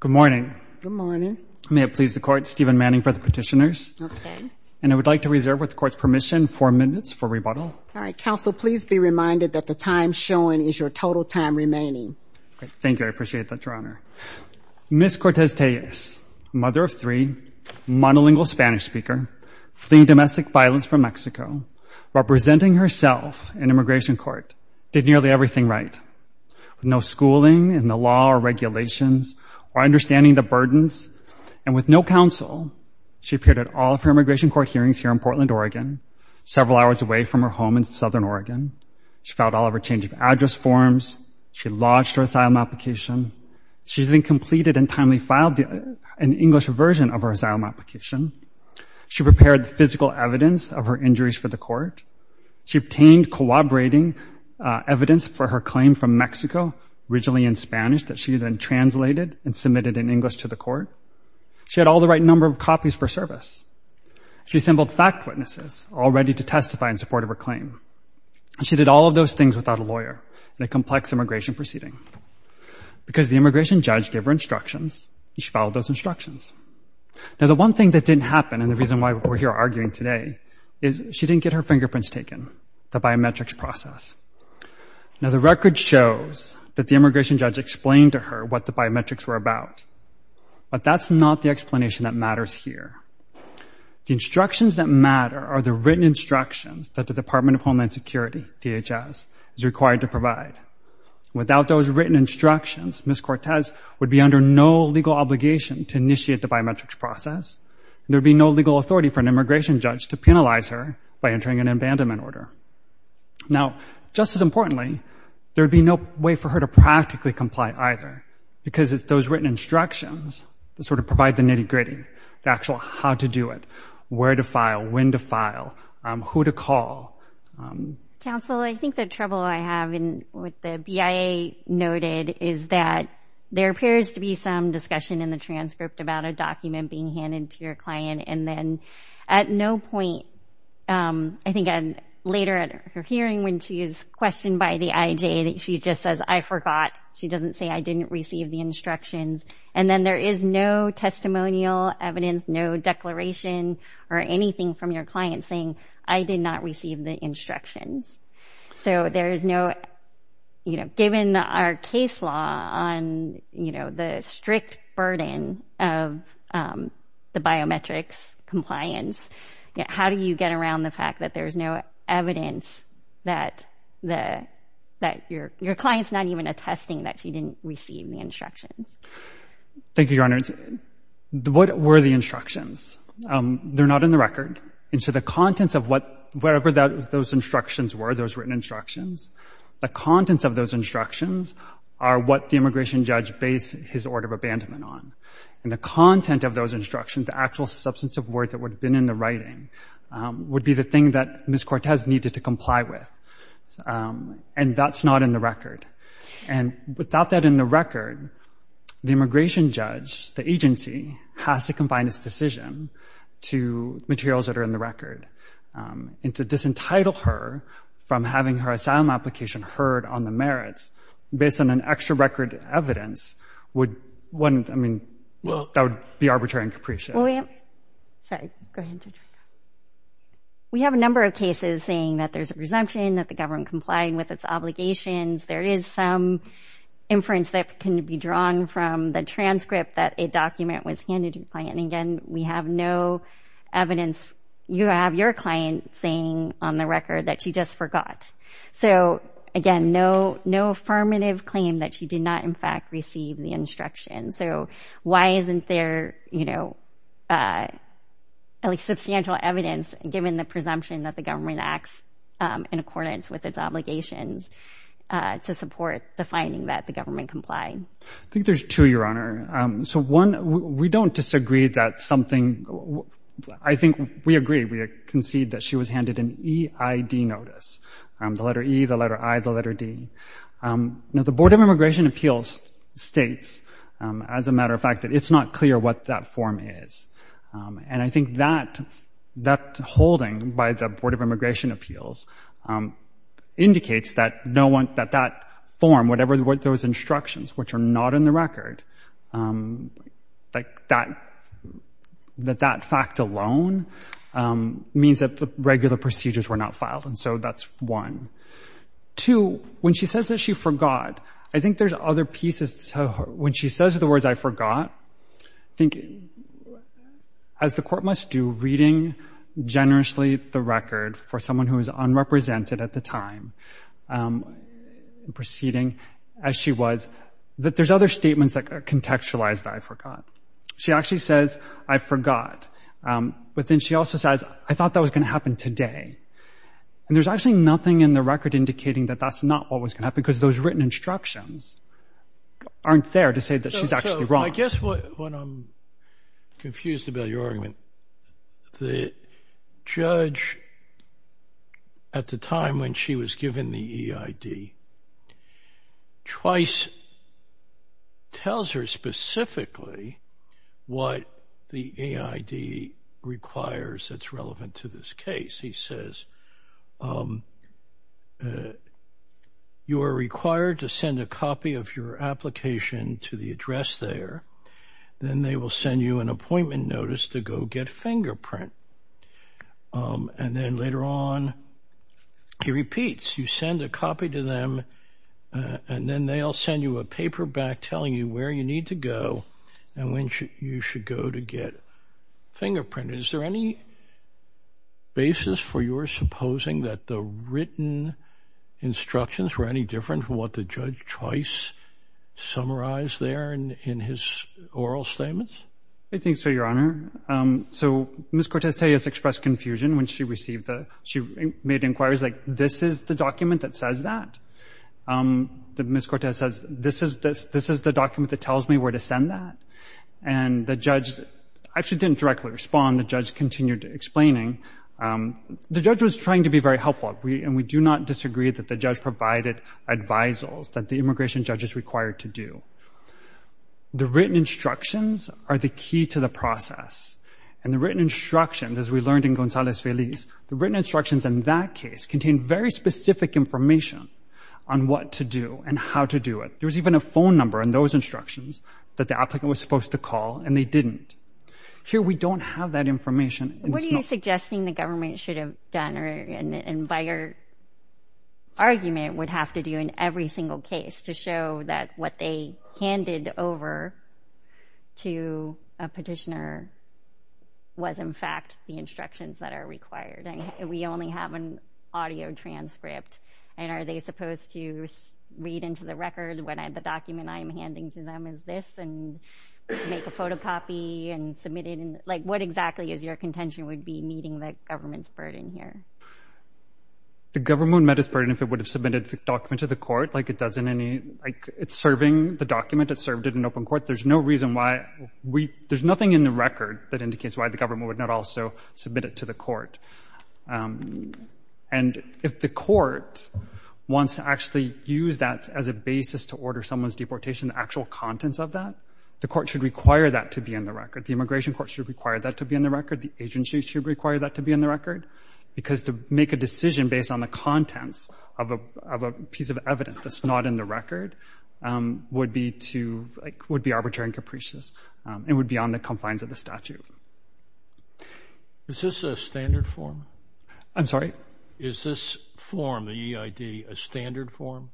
Good morning. Good morning. May it please the court, Stephen Manning for the petitioners. Okay. And I would like to reserve with the court's permission four minutes for rebuttal. All right. Counsel, please be reminded that the time shown is your total time remaining. Thank you. I appreciate that, Your Honor. Ms. Cortez Tellez, mother of three, monolingual Spanish speaker, fleeing domestic violence from Mexico, representing herself in immigration court, did nearly everything right. With no schooling in the law or regulations or understanding the burdens and with no counsel, she appeared at all of her immigration court hearings here in Portland, Oregon, several hours away from her home in Southern Oregon. She filed all of her change of address forms. She lodged her asylum application. She then completed and timely filed an English version of her asylum application. She prepared the physical evidence of her injuries for the court. She obtained corroborating evidence for her claim from Mexico, originally in Spanish, that she then translated and submitted in English to the court. She had all the right number of copies for service. She assembled fact witnesses all ready to testify in support of her claim. And she did all of those things without a she filed those instructions. Now, the one thing that didn't happen, and the reason why we're here arguing today, is she didn't get her fingerprints taken, the biometrics process. Now, the record shows that the immigration judge explained to her what the biometrics were about, but that's not the explanation that matters here. The instructions that matter are the written instructions that the Department of Homeland Security, DHS, is required to initiate the biometrics process. There'd be no legal authority for an immigration judge to penalize her by entering an abandonment order. Now, just as importantly, there'd be no way for her to practically comply either, because it's those written instructions that sort of provide the nitty-gritty, the actual how to do it, where to file, when to file, who to call. Council, I think the trouble I have with the BIA noted is that there appears to be some discussion in the transcript about a document being handed to your client, and then at no point, I think later at her hearing when she is questioned by the IJ, that she just says, I forgot. She doesn't say, I didn't receive the instructions. And then there is no testimonial evidence, no declaration, or anything from your client saying, I did not burden of the biometrics compliance. How do you get around the fact that there's no evidence that your client's not even attesting that she didn't receive the instructions? Thank you, Your Honor. What were the instructions? They're not in the record. And so the contents of what, wherever those instructions were, those written instructions, the contents of those instructions are what the immigration judge based his order of abandonment on. And the content of those instructions, the actual substance of words that would have been in the writing, would be the thing that Ms. Cortez needed to comply with. And that's not in the record. And without that in the record, the immigration judge, the agency, has to confine its decision to materials that are in the record. And to disentitle her from having her asylum application heard on the merits, based on an extra record evidence, would, wouldn't, I mean, that would be arbitrary and capricious. Sorry, go ahead, Judge Rico. We have a number of cases saying that there's a presumption that the government complying with its obligations. There is some inference that can be drawn from the transcript that a document was handed to the client. And again, we have no evidence. You have your client saying on the record that she just forgot. So again, no, no affirmative claim that she did not in fact receive the instruction. So why isn't there, you know, at least substantial evidence given the presumption that the government acts in accordance with its obligations to support the finding that the government complied? I think there's two, Your Honor. So one, we don't disagree that something, I think we agree, we concede that she was handed an EID notice. The letter E, the letter I, the letter D. Now the Board of Immigration Appeals states, as a matter of fact, that it's not clear what that form is. And I think that, that holding by the Board of Immigration Appeals indicates that no one, that that form, whatever those instructions, which are not in the record, like that, that that fact alone means that the regular procedures were not filed. And so that's one. Two, when she says that she forgot, I think there's other pieces. So when she says the words, I forgot, I think as the court must do, reading generously the record for someone who is unrepresented at the time, proceeding as she was, that there's other statements that are contextualized, I forgot. She actually says, I forgot. But then she also says, I thought that was going to happen today. And there's actually nothing in the record indicating that that's not what was going to happen, because those written instructions aren't there to say that she's actually wrong. I guess what I'm confused about your argument, the judge, at the time when she was given the EID, twice tells her specifically what the EID requires that's relevant to this case. He says, you are required to send a copy of your application to the address there. Then they will send you an appointment notice to go get fingerprint. And then later on, he repeats, you send a copy to them, and then they'll send you a paper back telling you where you need to go, and when you should go to get fingerprinted. Is there any basis for your supposing that the written instructions were any different from what the judge twice summarized there in his oral statements? I think so, Your Honor. So Ms. Cortez-Telles expressed confusion when she received the, she made inquiries like, this is the document that says that? Ms. Cortez says, this is the document that tells me where to send that? And the judge actually didn't directly respond. The judge continued explaining. The judge was trying to be very helpful, and we do not disagree that the judge provided advisals that the immigration judge is required to do. The written instructions are the key to the process. And the written instructions, as we learned in Gonzalez-Feliz, the written instructions in that case contained very specific information on what to do and how to do it. There was even a phone number in those instructions that the applicant was supposed to call, and they didn't. Here, we don't have that information. What are you suggesting the government should have done, and by your argument, would have to do in every single case to show that what they handed over to a petitioner was, in fact, the instructions that are required? And we only have an audio transcript. And are they supposed to read into the record when the document I'm handing to them is this, and make a photocopy and submit it? What exactly is your contention would be meeting the government's burden here? The government would met its burden if it would have submitted the document to the court. It's serving the document. It's served in an open court. There's no reason why we... There's nothing in the record that indicates why the government would not also submit it to the court. And if the court wants to actually use that as a basis to order someone's deportation, the actual contents of that, the court should require that to be in the record. The immigration court should require that to be in the record. The agency should require that to be in the record, because to make a decision based on the contents of a piece of evidence that's not in the record would be arbitrary and capricious, and would be on the confines of the statute. Is this a standard form? I'm sorry? Is this form, the EID, a standard form?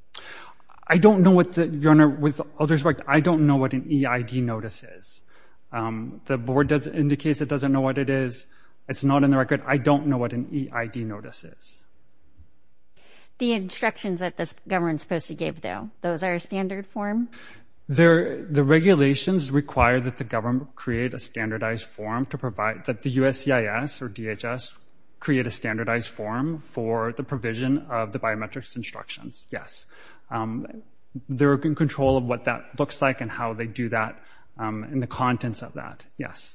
I don't know what the... Your Honor, with all due respect, I don't know what an EID notice is. The board does... indicates it doesn't know what it is. It's not in the record. I don't know what an EID notice is. The instructions that this government's supposed to give, though, those are a standard form? The regulations require that the government create a standardized form to provide... that the USCIS or DHS create a standardized form for the provision of the biometrics instructions, yes. They're in control of what that looks like and how they do that and the contents of that, yes.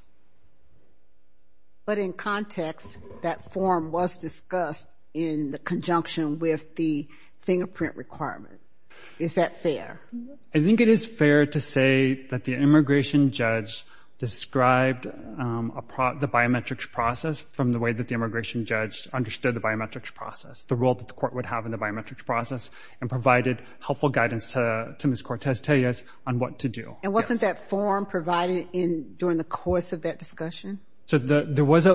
But in context, that form was discussed in conjunction with the fingerprint requirement. Is that fair? I think it is fair to say that the immigration judge described the biometrics process from the way that the immigration judge understood the biometrics process, the role that the court would have in the biometrics process, and provided helpful guidance to Ms. Cortez Tellez on what to do. And wasn't that form provided in during the course of that discussion? So there was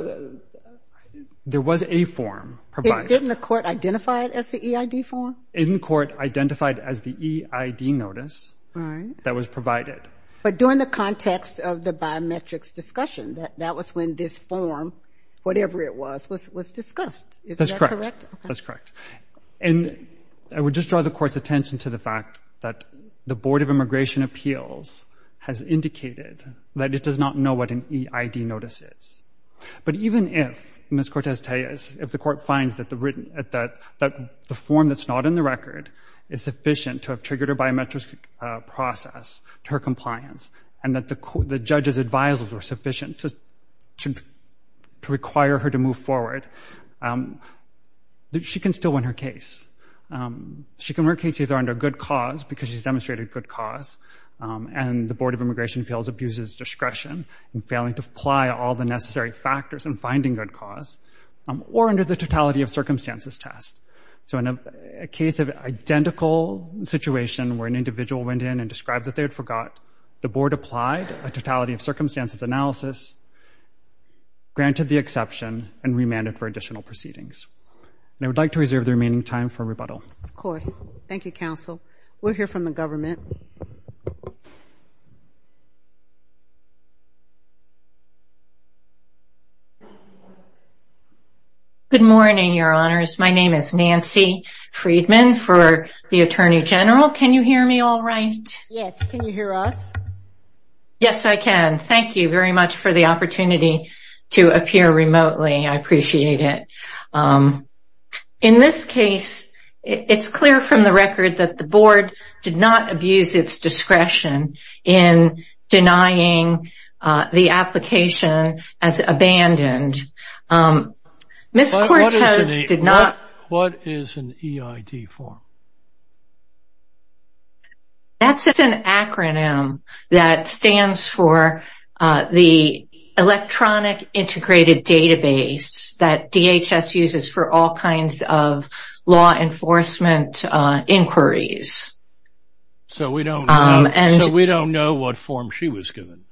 a form provided. Didn't the court identify it as the EID form? In court, identified as the EID notice that was provided. But during the context of the biometrics discussion, that was when this form, whatever it was, was discussed. Is that correct? That's correct. And I would just draw the court's attention to the fact that the Board of Immigration Appeals has indicated that it does not know what an EID notice is. But even if Ms. Cortez Tellez, if the court finds that the form that's not in the record is sufficient to have triggered her biometrics process to her compliance, and that the judge's advisers were sufficient to require her to move forward, she can still win her case. She can win her case either under good cause, because she's demonstrated good cause, and the Board of Immigration Appeals abuses discretion in failing to apply all the necessary factors in finding good cause, or under the totality of circumstances test. So in a case of identical situation where an individual went in and described that they had forgot, the Board applied a totality of circumstances analysis, granted the exception, and remanded for additional proceedings. And I would like to reserve the remaining time for rebuttal. Of course. Thank you, counsel. We'll hear from the government. Good morning, your honors. My name is Nancy Friedman for the Attorney General. Can you hear me all right? Yes, can you hear us? Yes, I can. Thank you very much for the opportunity to appear remotely. I appreciate it. In this case, it's clear from the record that the Board did not abuse its discretion in denying the application as abandoned. What is an EID form? That's an acronym that stands for the Electronic Integrated Database that DHS uses for all kinds of law enforcement inquiries. So we don't know what form she was given?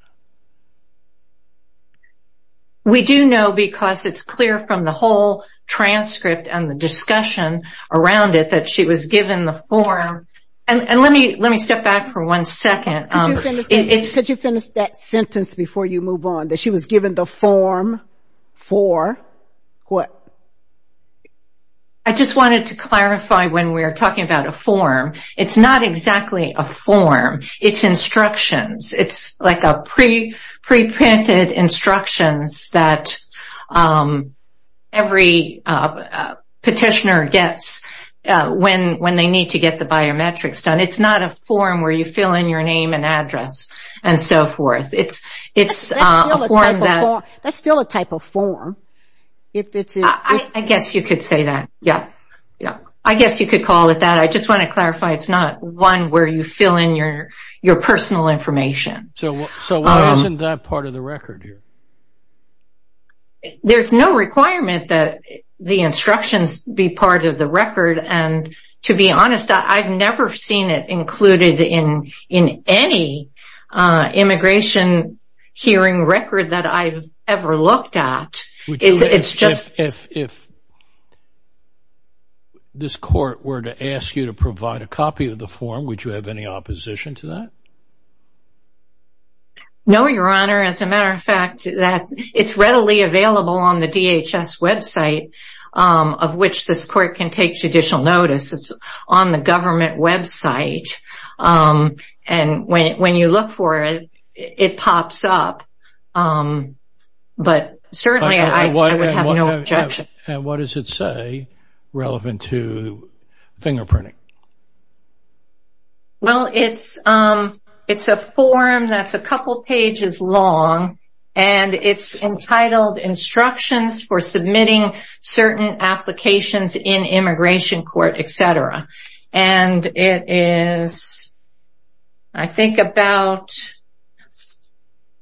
We do know because it's clear from the whole transcript and the discussion around it that she was given the form. And let me step back for one second. Could you finish that sentence before you move on? That she was given the form for what? I just wanted to clarify when we're talking about a form. It's not exactly a form. It's instructions. It's like pre-printed instructions that every petitioner gets when they need to get the biometrics done. It's not a form where you fill in your name and address and so forth. That's still a type of form. I guess you could call it that. I just want to clarify it's not one where you fill in your personal information. So why isn't that part of the record here? There's no requirement that the instructions be part of the record. And to be honest, I've never seen it included in any immigration hearing record that I've ever looked at. If this court were to ask you to provide a copy of the form, would you have any opposition to that? No, your honor. As a matter of fact, it's readily available on the DHS website of which this court can take judicial notice. It's on the government website. And when you look for it, it pops up. But certainly I would have no objection. And what does it say relevant to fingerprinting? Well, it's a form that's a couple pages long and it's entitled instructions for submitting certain applications in immigration court, etc. And it is, I think about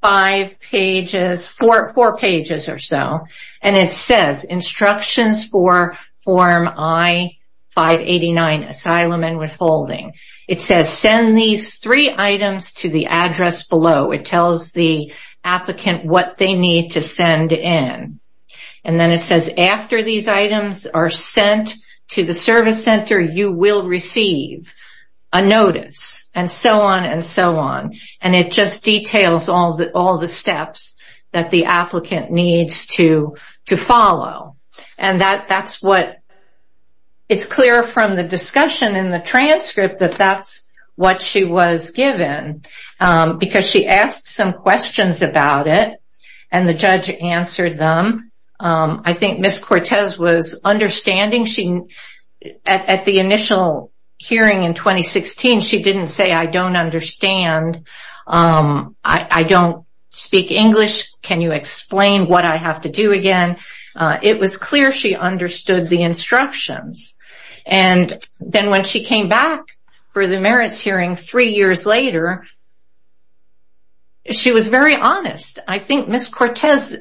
five pages, four pages or so. And it says instructions for form I-589, asylum and withholding. It says send these three items to the address below. It tells the applicant what they need to send in. And then it says after these items are sent to the service center, you will receive a notice and so on and so on. And it just details all the steps that the applicant needs to follow. And that's what it's clear from the discussion in the and the judge answered them. I think Ms. Cortez was understanding. At the initial hearing in 2016, she didn't say, I don't understand. I don't speak English. Can you explain what I have to do again? It was clear she understood the instructions. And then when she came back for the merits hearing three years later, she was very honest. I think Ms. Cortez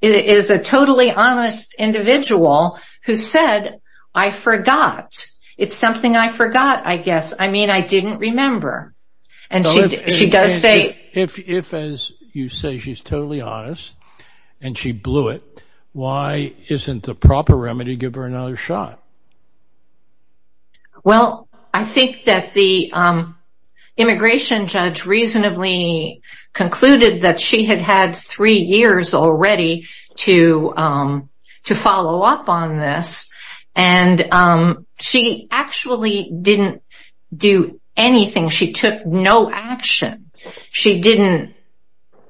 is a totally honest individual who said, I forgot. It's something I forgot, I guess. I mean, I didn't remember. And she does say, if as you say, she's totally honest and she blew it. Why isn't the proper remedy give her another shot? Well, I think that the immigration judge reasonably concluded that she had had three years already to follow up on this. And she actually didn't do anything. She took no action. She didn't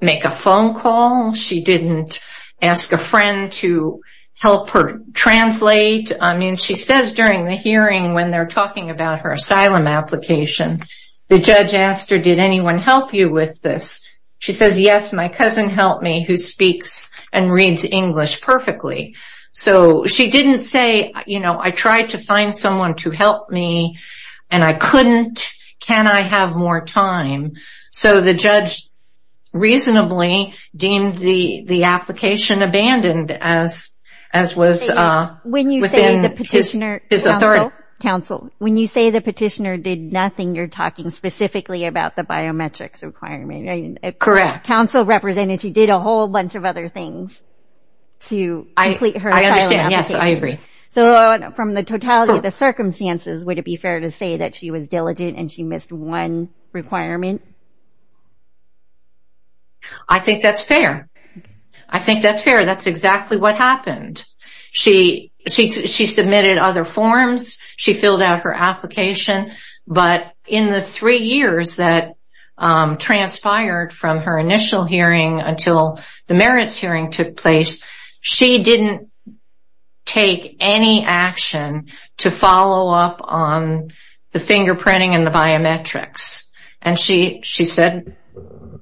make a phone call. She didn't ask a friend to help her translate. I mean, she says during the hearing when they're talking about her asylum application, the judge asked her, did anyone help you with this? She says, yes, my cousin helped me who speaks and reads English perfectly. So she didn't say, I tried to find someone to help me and I couldn't. Can I have more time? So the judge reasonably deemed the application abandoned as was within his authority. Counsel, when you say the petitioner did nothing, you're talking specifically about the biometrics requirement. Correct. Counsel represented she did a whole bunch of other things to complete her asylum application. I understand. Yes, I agree. So from the totality of the circumstances, would it be fair to say that she was diligent and she submitted other forms? I think that's fair. I think that's fair. That's exactly what happened. She submitted other forms. She filled out her application. But in the three years that transpired from her initial hearing until the merits hearing took place, she didn't take any action to follow up on the fingerprinting and the biometrics. And she said,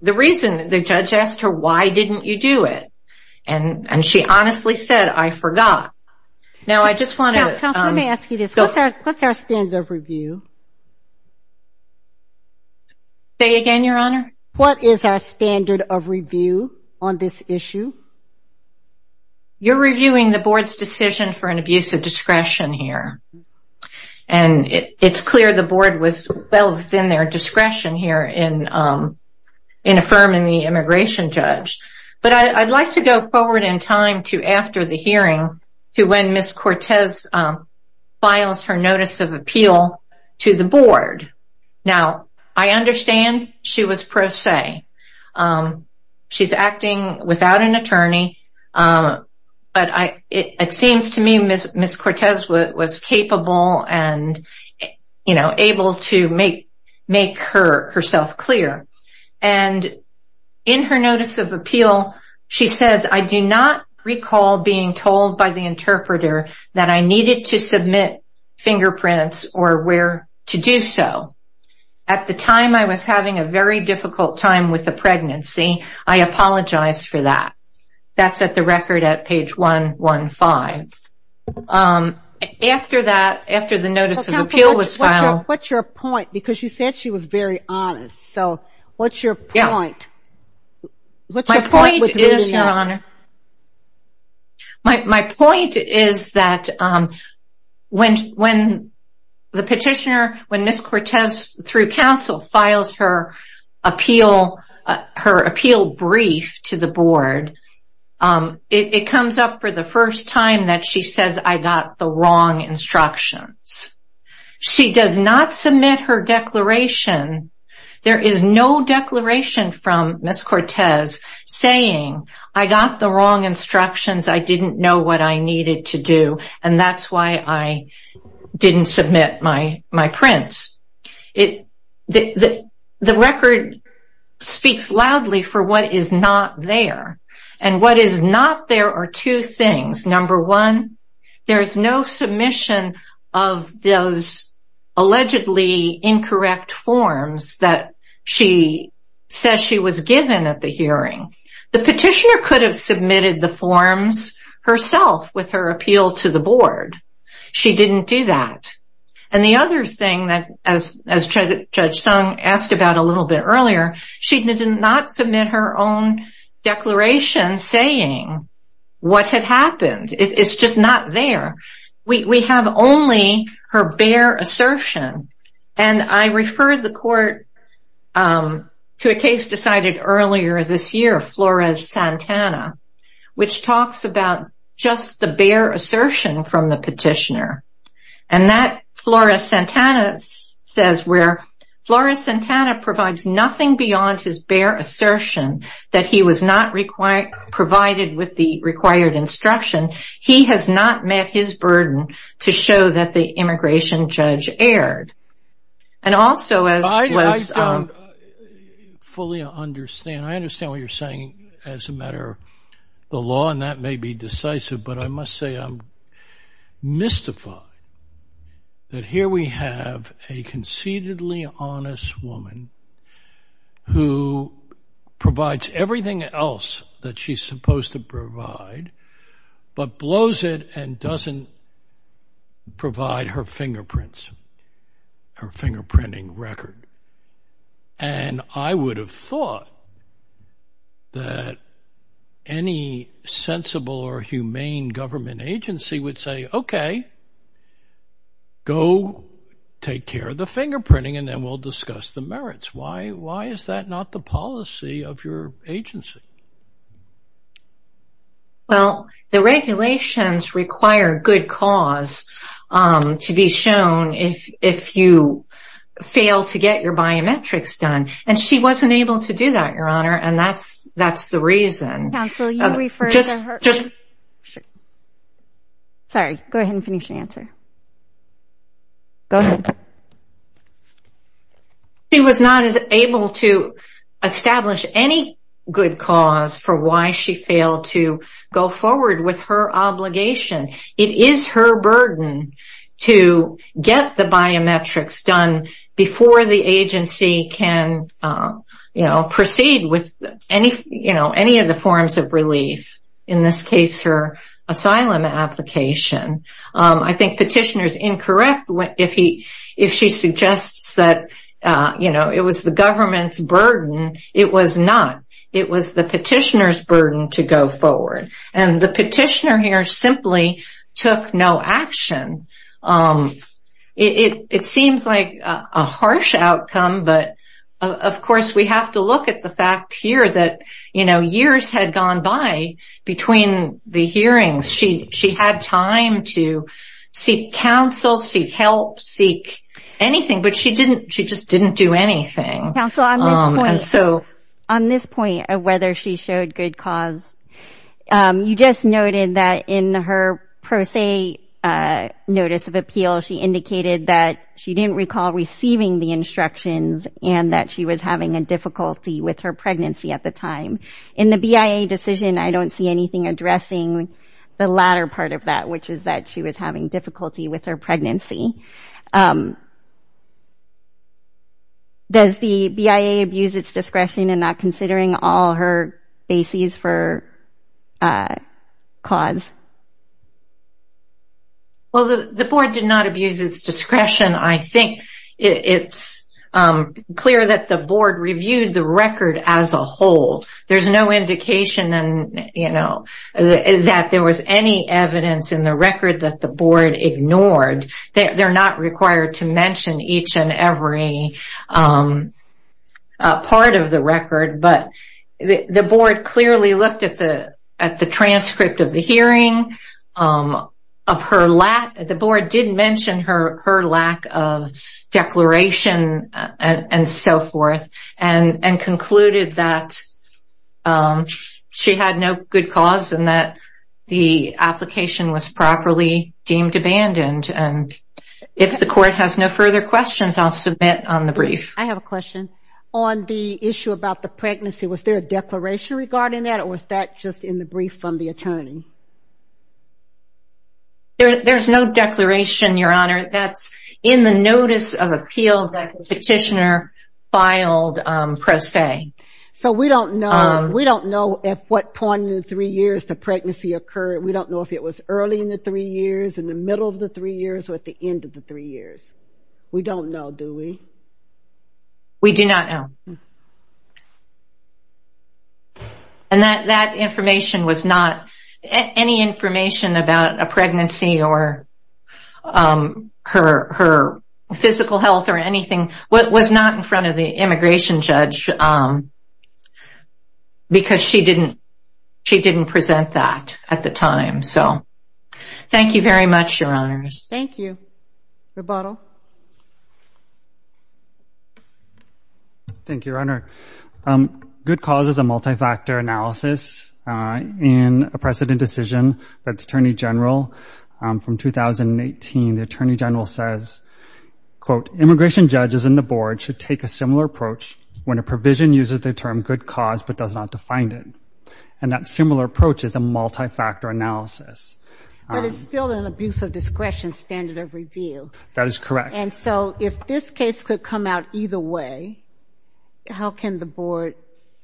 the reason the judge asked her, why didn't you do it? And she honestly said, I forgot. Now, I just want to. Counsel, let me ask you this. What's our standard of review? Say again, Your Honor. What is our standard of review on this issue? You're reviewing the board's decision for an abuse of discretion here. And it's clear the board was well within their discretion here in affirming the immigration judge. But I'd like to go forward in time to after the hearing to when Ms. Cortez files her notice of appeal to the board. Now, I understand she was pro se. She's acting without an attorney. But it seems to me Ms. Cortez was capable and able to make herself clear. And in her notice of appeal, she says, I do not recall being told by the interpreter that I needed to submit fingerprints or where to do so. At the time, I was having a very difficult time with the pregnancy. I apologize for that. That's at the record at page 115. After that, after the notice of appeal was filed. What's your point? Because you said she was very honest. So, what's your point? My point is, Your Honor. My point is that when the petitioner, when Ms. Cortez through counsel files her appeal brief to the board, it comes up for the first time that she says, I got the wrong instructions. She does not submit her declaration. There is no declaration from Ms. Cortez saying, I got the wrong instructions. I didn't know what I needed to do. And that's why I didn't submit my prints. The record speaks loudly for what is not there. And what is not there are two things. Number one, there is no submission of those allegedly incorrect forms that she says she was hearing. The petitioner could have submitted the forms herself with her appeal to the board. She didn't do that. And the other thing that as Judge Sung asked about a little bit earlier, she did not submit her own declaration saying what had happened. It's just not there. We have only her bare assertion. And I referred the court to a case decided earlier this year, Flores-Santana, which talks about just the bare assertion from the petitioner. And that Flores-Santana says where Flores-Santana provides nothing beyond his bare assertion that he was not provided with the required instruction. He has not met his burden to show that the immigration judge erred. And also as was- I don't fully understand. I understand what you're saying as a matter of the law, and that may be decisive, but I must say I'm mystified that here we have a conceitedly honest woman who provides everything else that she's supposed to provide, but blows it and doesn't provide her fingerprints, her fingerprinting record. And I would have thought that any sensible or humane government agency would say, okay, go take care of the fingerprinting, and we'll discuss the merits. Why is that not the policy of your agency? Well, the regulations require good cause to be shown if you fail to get your biometrics done. And she wasn't able to do that, Your Honor, and that's the reason. Sorry, go ahead and finish your answer. Go ahead. She was not able to establish any good cause for why she failed to go forward with her obligation. It is her burden to get the biometrics done before the agency can, you know, proceed with any, you know, any of the forms of relief. In this case, her asylum application. I think petitioner's correct if she suggests that, you know, it was the government's burden. It was not. It was the petitioner's burden to go forward. And the petitioner here simply took no action. It seems like a harsh outcome, but of course, we have to look at the fact here that, you know, years had time to seek counsel, seek help, seek anything, but she just didn't do anything. Counsel, on this point of whether she showed good cause, you just noted that in her pro se notice of appeal, she indicated that she didn't recall receiving the instructions and that she was having a difficulty with her pregnancy at the time. In the BIA decision, I don't see anything addressing the latter part of that, which is that she was having difficulty with her pregnancy. Does the BIA abuse its discretion in not considering all her bases for cause? Well, the board did not abuse its discretion. I think it's clear that the board reviewed the that there was any evidence in the record that the board ignored. They're not required to mention each and every part of the record, but the board clearly looked at the transcript of the hearing of her lack. The board did mention her lack of declaration and so forth and concluded that she had no good cause and that the application was properly deemed abandoned and if the court has no further questions, I'll submit on the brief. I have a question. On the issue about the pregnancy, was there a declaration regarding that or was that just in the brief from the attorney? There's no declaration, your honor. That's in the notice of appeal that the We don't know at what point in the three years the pregnancy occurred. We don't know if it was early in the three years, in the middle of the three years, or at the end of the three years. We don't know, do we? We do not know. And that information was not, any information about a pregnancy or her physical health or anything was not in front of the immigration judge. Because she didn't, she didn't present that at the time. So thank you very much, your honors. Thank you. Rebuttal. Thank you, your honor. Good cause is a multi-factor analysis in a precedent decision that the attorney general from 2018, the attorney general says, quote, immigration judges and the board should take a similar approach when a provision uses the term good cause, but does not define it. And that similar approach is a multi-factor analysis. But it's still an abuse of discretion standard of review. That is correct. And so if this case could come out either way, how can the board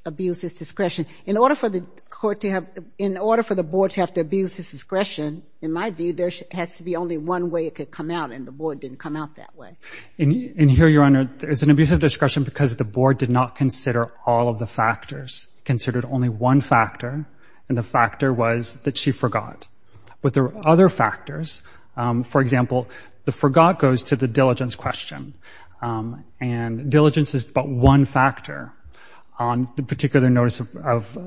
abuse this discretion? In order for the court to have, in order for the board to have to abuse this discretion, in my view, there has to be only one way it could come out and the board didn't come out that way. And here, your honor, it's an abuse of discretion because the board did not consider all of the factors, considered only one factor. And the factor was that she forgot. But there are other factors. For example, the forgot goes to the diligence question. And diligence is but one factor on the particular notice of,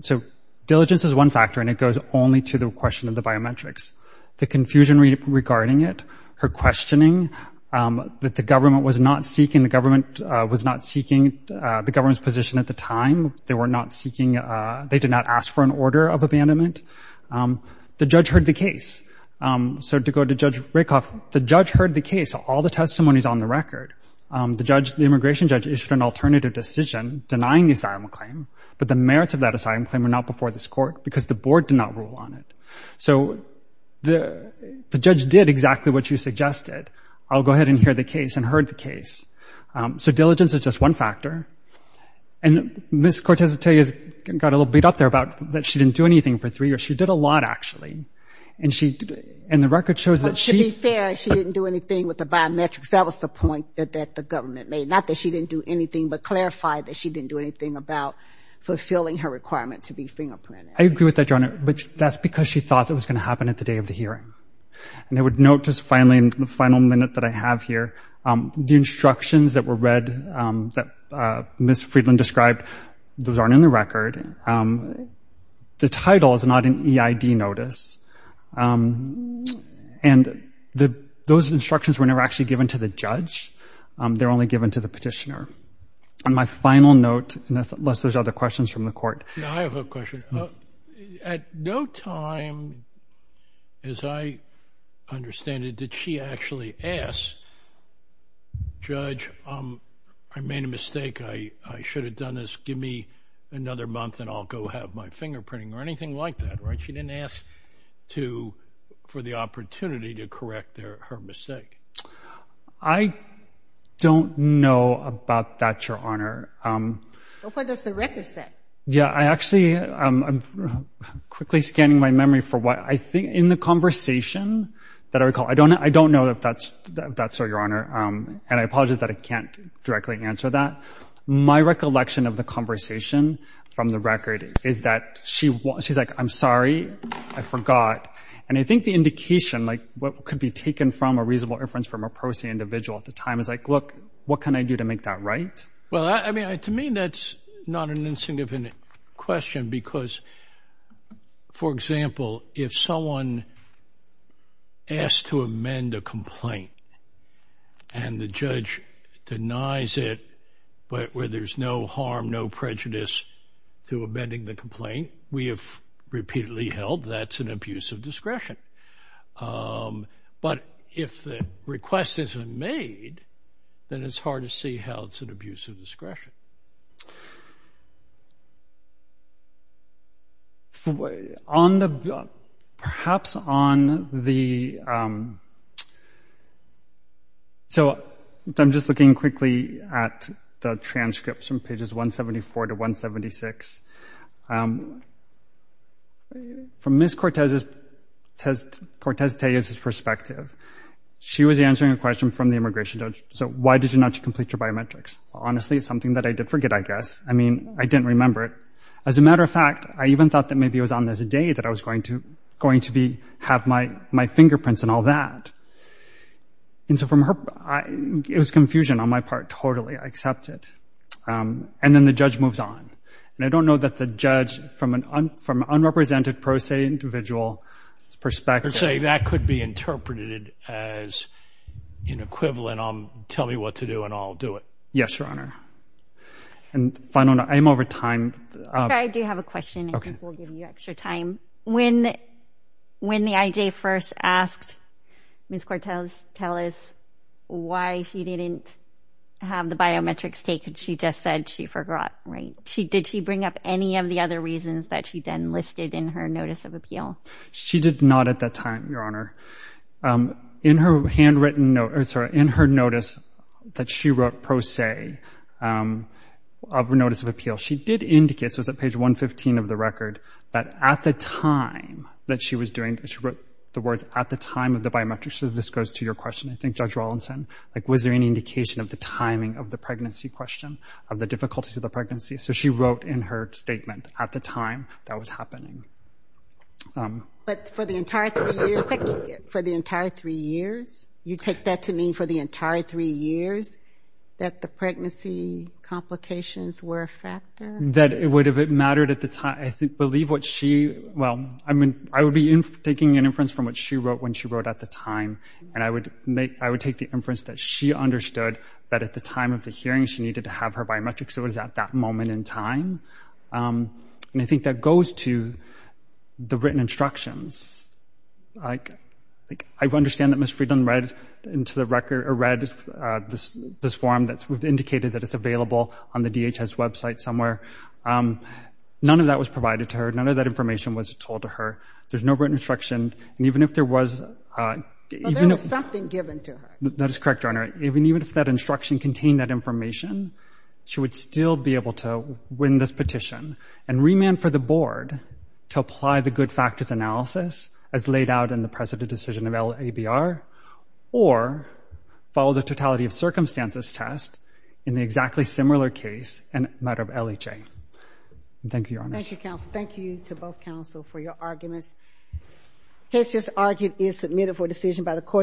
so diligence is one factor and it goes only to the question of the biometrics. The confusion regarding it, her questioning, that the government was not seeking, the government was not seeking the government's position at the time. They were not seeking, they did not ask for an order of abandonment. The judge heard the case. So to go to Judge Rakoff, the judge heard the case, all the testimonies on the record. The judge, the immigration judge issued an alternative decision denying the asylum claim, but the merits of that asylum claim were not before this court because the board did not rule on it. So the judge did exactly what you suggested. I'll go ahead and hear the case and heard the case. So diligence is just one factor. And Ms. Cortez-Atay got a little beat up there about that she didn't do anything for three years. She did a lot actually. And the record shows that she- To be fair, she didn't do anything with the biometrics. That was the point that the government made. Not that she didn't do anything, but clarified that she didn't do anything about fulfilling her requirement to be fingerprinted. I agree with that, your honor. But that's because she thought that was going to happen at the day of the hearing. And I would note just finally, the final minute that I have here, the instructions that were read that Ms. Friedland described, those aren't in the record. The title is not an EID notice. And those instructions were never actually given to the judge. They're only given to the petitioner. On my final note, unless there's other questions from the court. I have a question. At no time, as I understand it, did she actually ask, judge, I made a mistake. I should have done this. Give me another month and I'll go have my fingerprinting or anything like that. Right? She didn't ask for the opportunity to correct her mistake. I don't know about that, your honor. What does the record say? Yeah. I actually, I'm quickly scanning my memory for what I think in the conversation that I recall. I don't know if that's so, your honor. And I apologize that I can't directly answer that. My recollection of the conversation from the record is that she's like, I'm sorry, I forgot. And I think the indication, like what could be taken from a reasonable inference from a prosaic individual at the time is like, look, what can I do to make that right? Well, I mean, to me, that's not an question because, for example, if someone asked to amend a complaint and the judge denies it, but where there's no harm, no prejudice to amending the complaint, we have repeatedly held that's an abuse of discretion. But if the request isn't made, then it's hard to see how it's an abuse of discretion. So I'm just looking quickly at the transcripts from pages 174 to 176. From Ms. Cortez-Tejas' perspective, she was answering a question from the immigration judge. So why did you not complete your biometrics? Honestly, it's something that I did forget, I guess. I mean, I didn't remember it. As a matter of fact, I even thought that maybe it was on this day that I was going to have my fingerprints and all that. And so from her, it was confusion on my part. Totally, I accept it. And then the judge moves on. And I don't know that the judge, from an unrepresented prosaic individual's perspective— tell me what to do and I'll do it. Yes, Your Honor. And if I don't know, I'm over time. I do have a question. I think we'll give you extra time. When the IJ first asked Ms. Cortez-Tejas why she didn't have the biometrics taken, she just said she forgot, right? Did she bring up any of the other reasons that she then listed in her notice of appeal? She did not at that time, Your Honor. In her notice that she wrote pro se of notice of appeal, she did indicate, so it's at page 115 of the record, that at the time that she was doing it, she wrote the words, at the time of the biometrics. So this goes to your question, I think, Judge Rawlinson. Was there any indication of the timing of the pregnancy question, of the difficulties of the pregnancy? So she wrote in her statement, at the time that was happening. But for the entire three years, you take that to mean for the entire three years that the pregnancy complications were a factor? That it would have mattered at the time. I believe what she, well, I mean, I would be taking an inference from what she wrote when she wrote at the time. And I would take the inference that she understood that at the time of the hearing, she needed to have her biometrics. It was at that moment in time. And I think that goes to the written instructions. I understand that Ms. Friedland read this form that indicated that it's available on the DHS website somewhere. None of that was provided to her. None of that information was told to her. There's no written instruction. And even if there was... But there was something given to her. That is correct, Your Honor. Even if that information, she would still be able to win this petition and remand for the board to apply the good factors analysis as laid out in the precedent decision of LABR, or follow the totality of circumstances test in the exactly similar case in a matter of LHA. Thank you, Your Honor. Thank you, counsel. Thank you to both counsel for your arguments. Case just argued is submitted for decision by the court.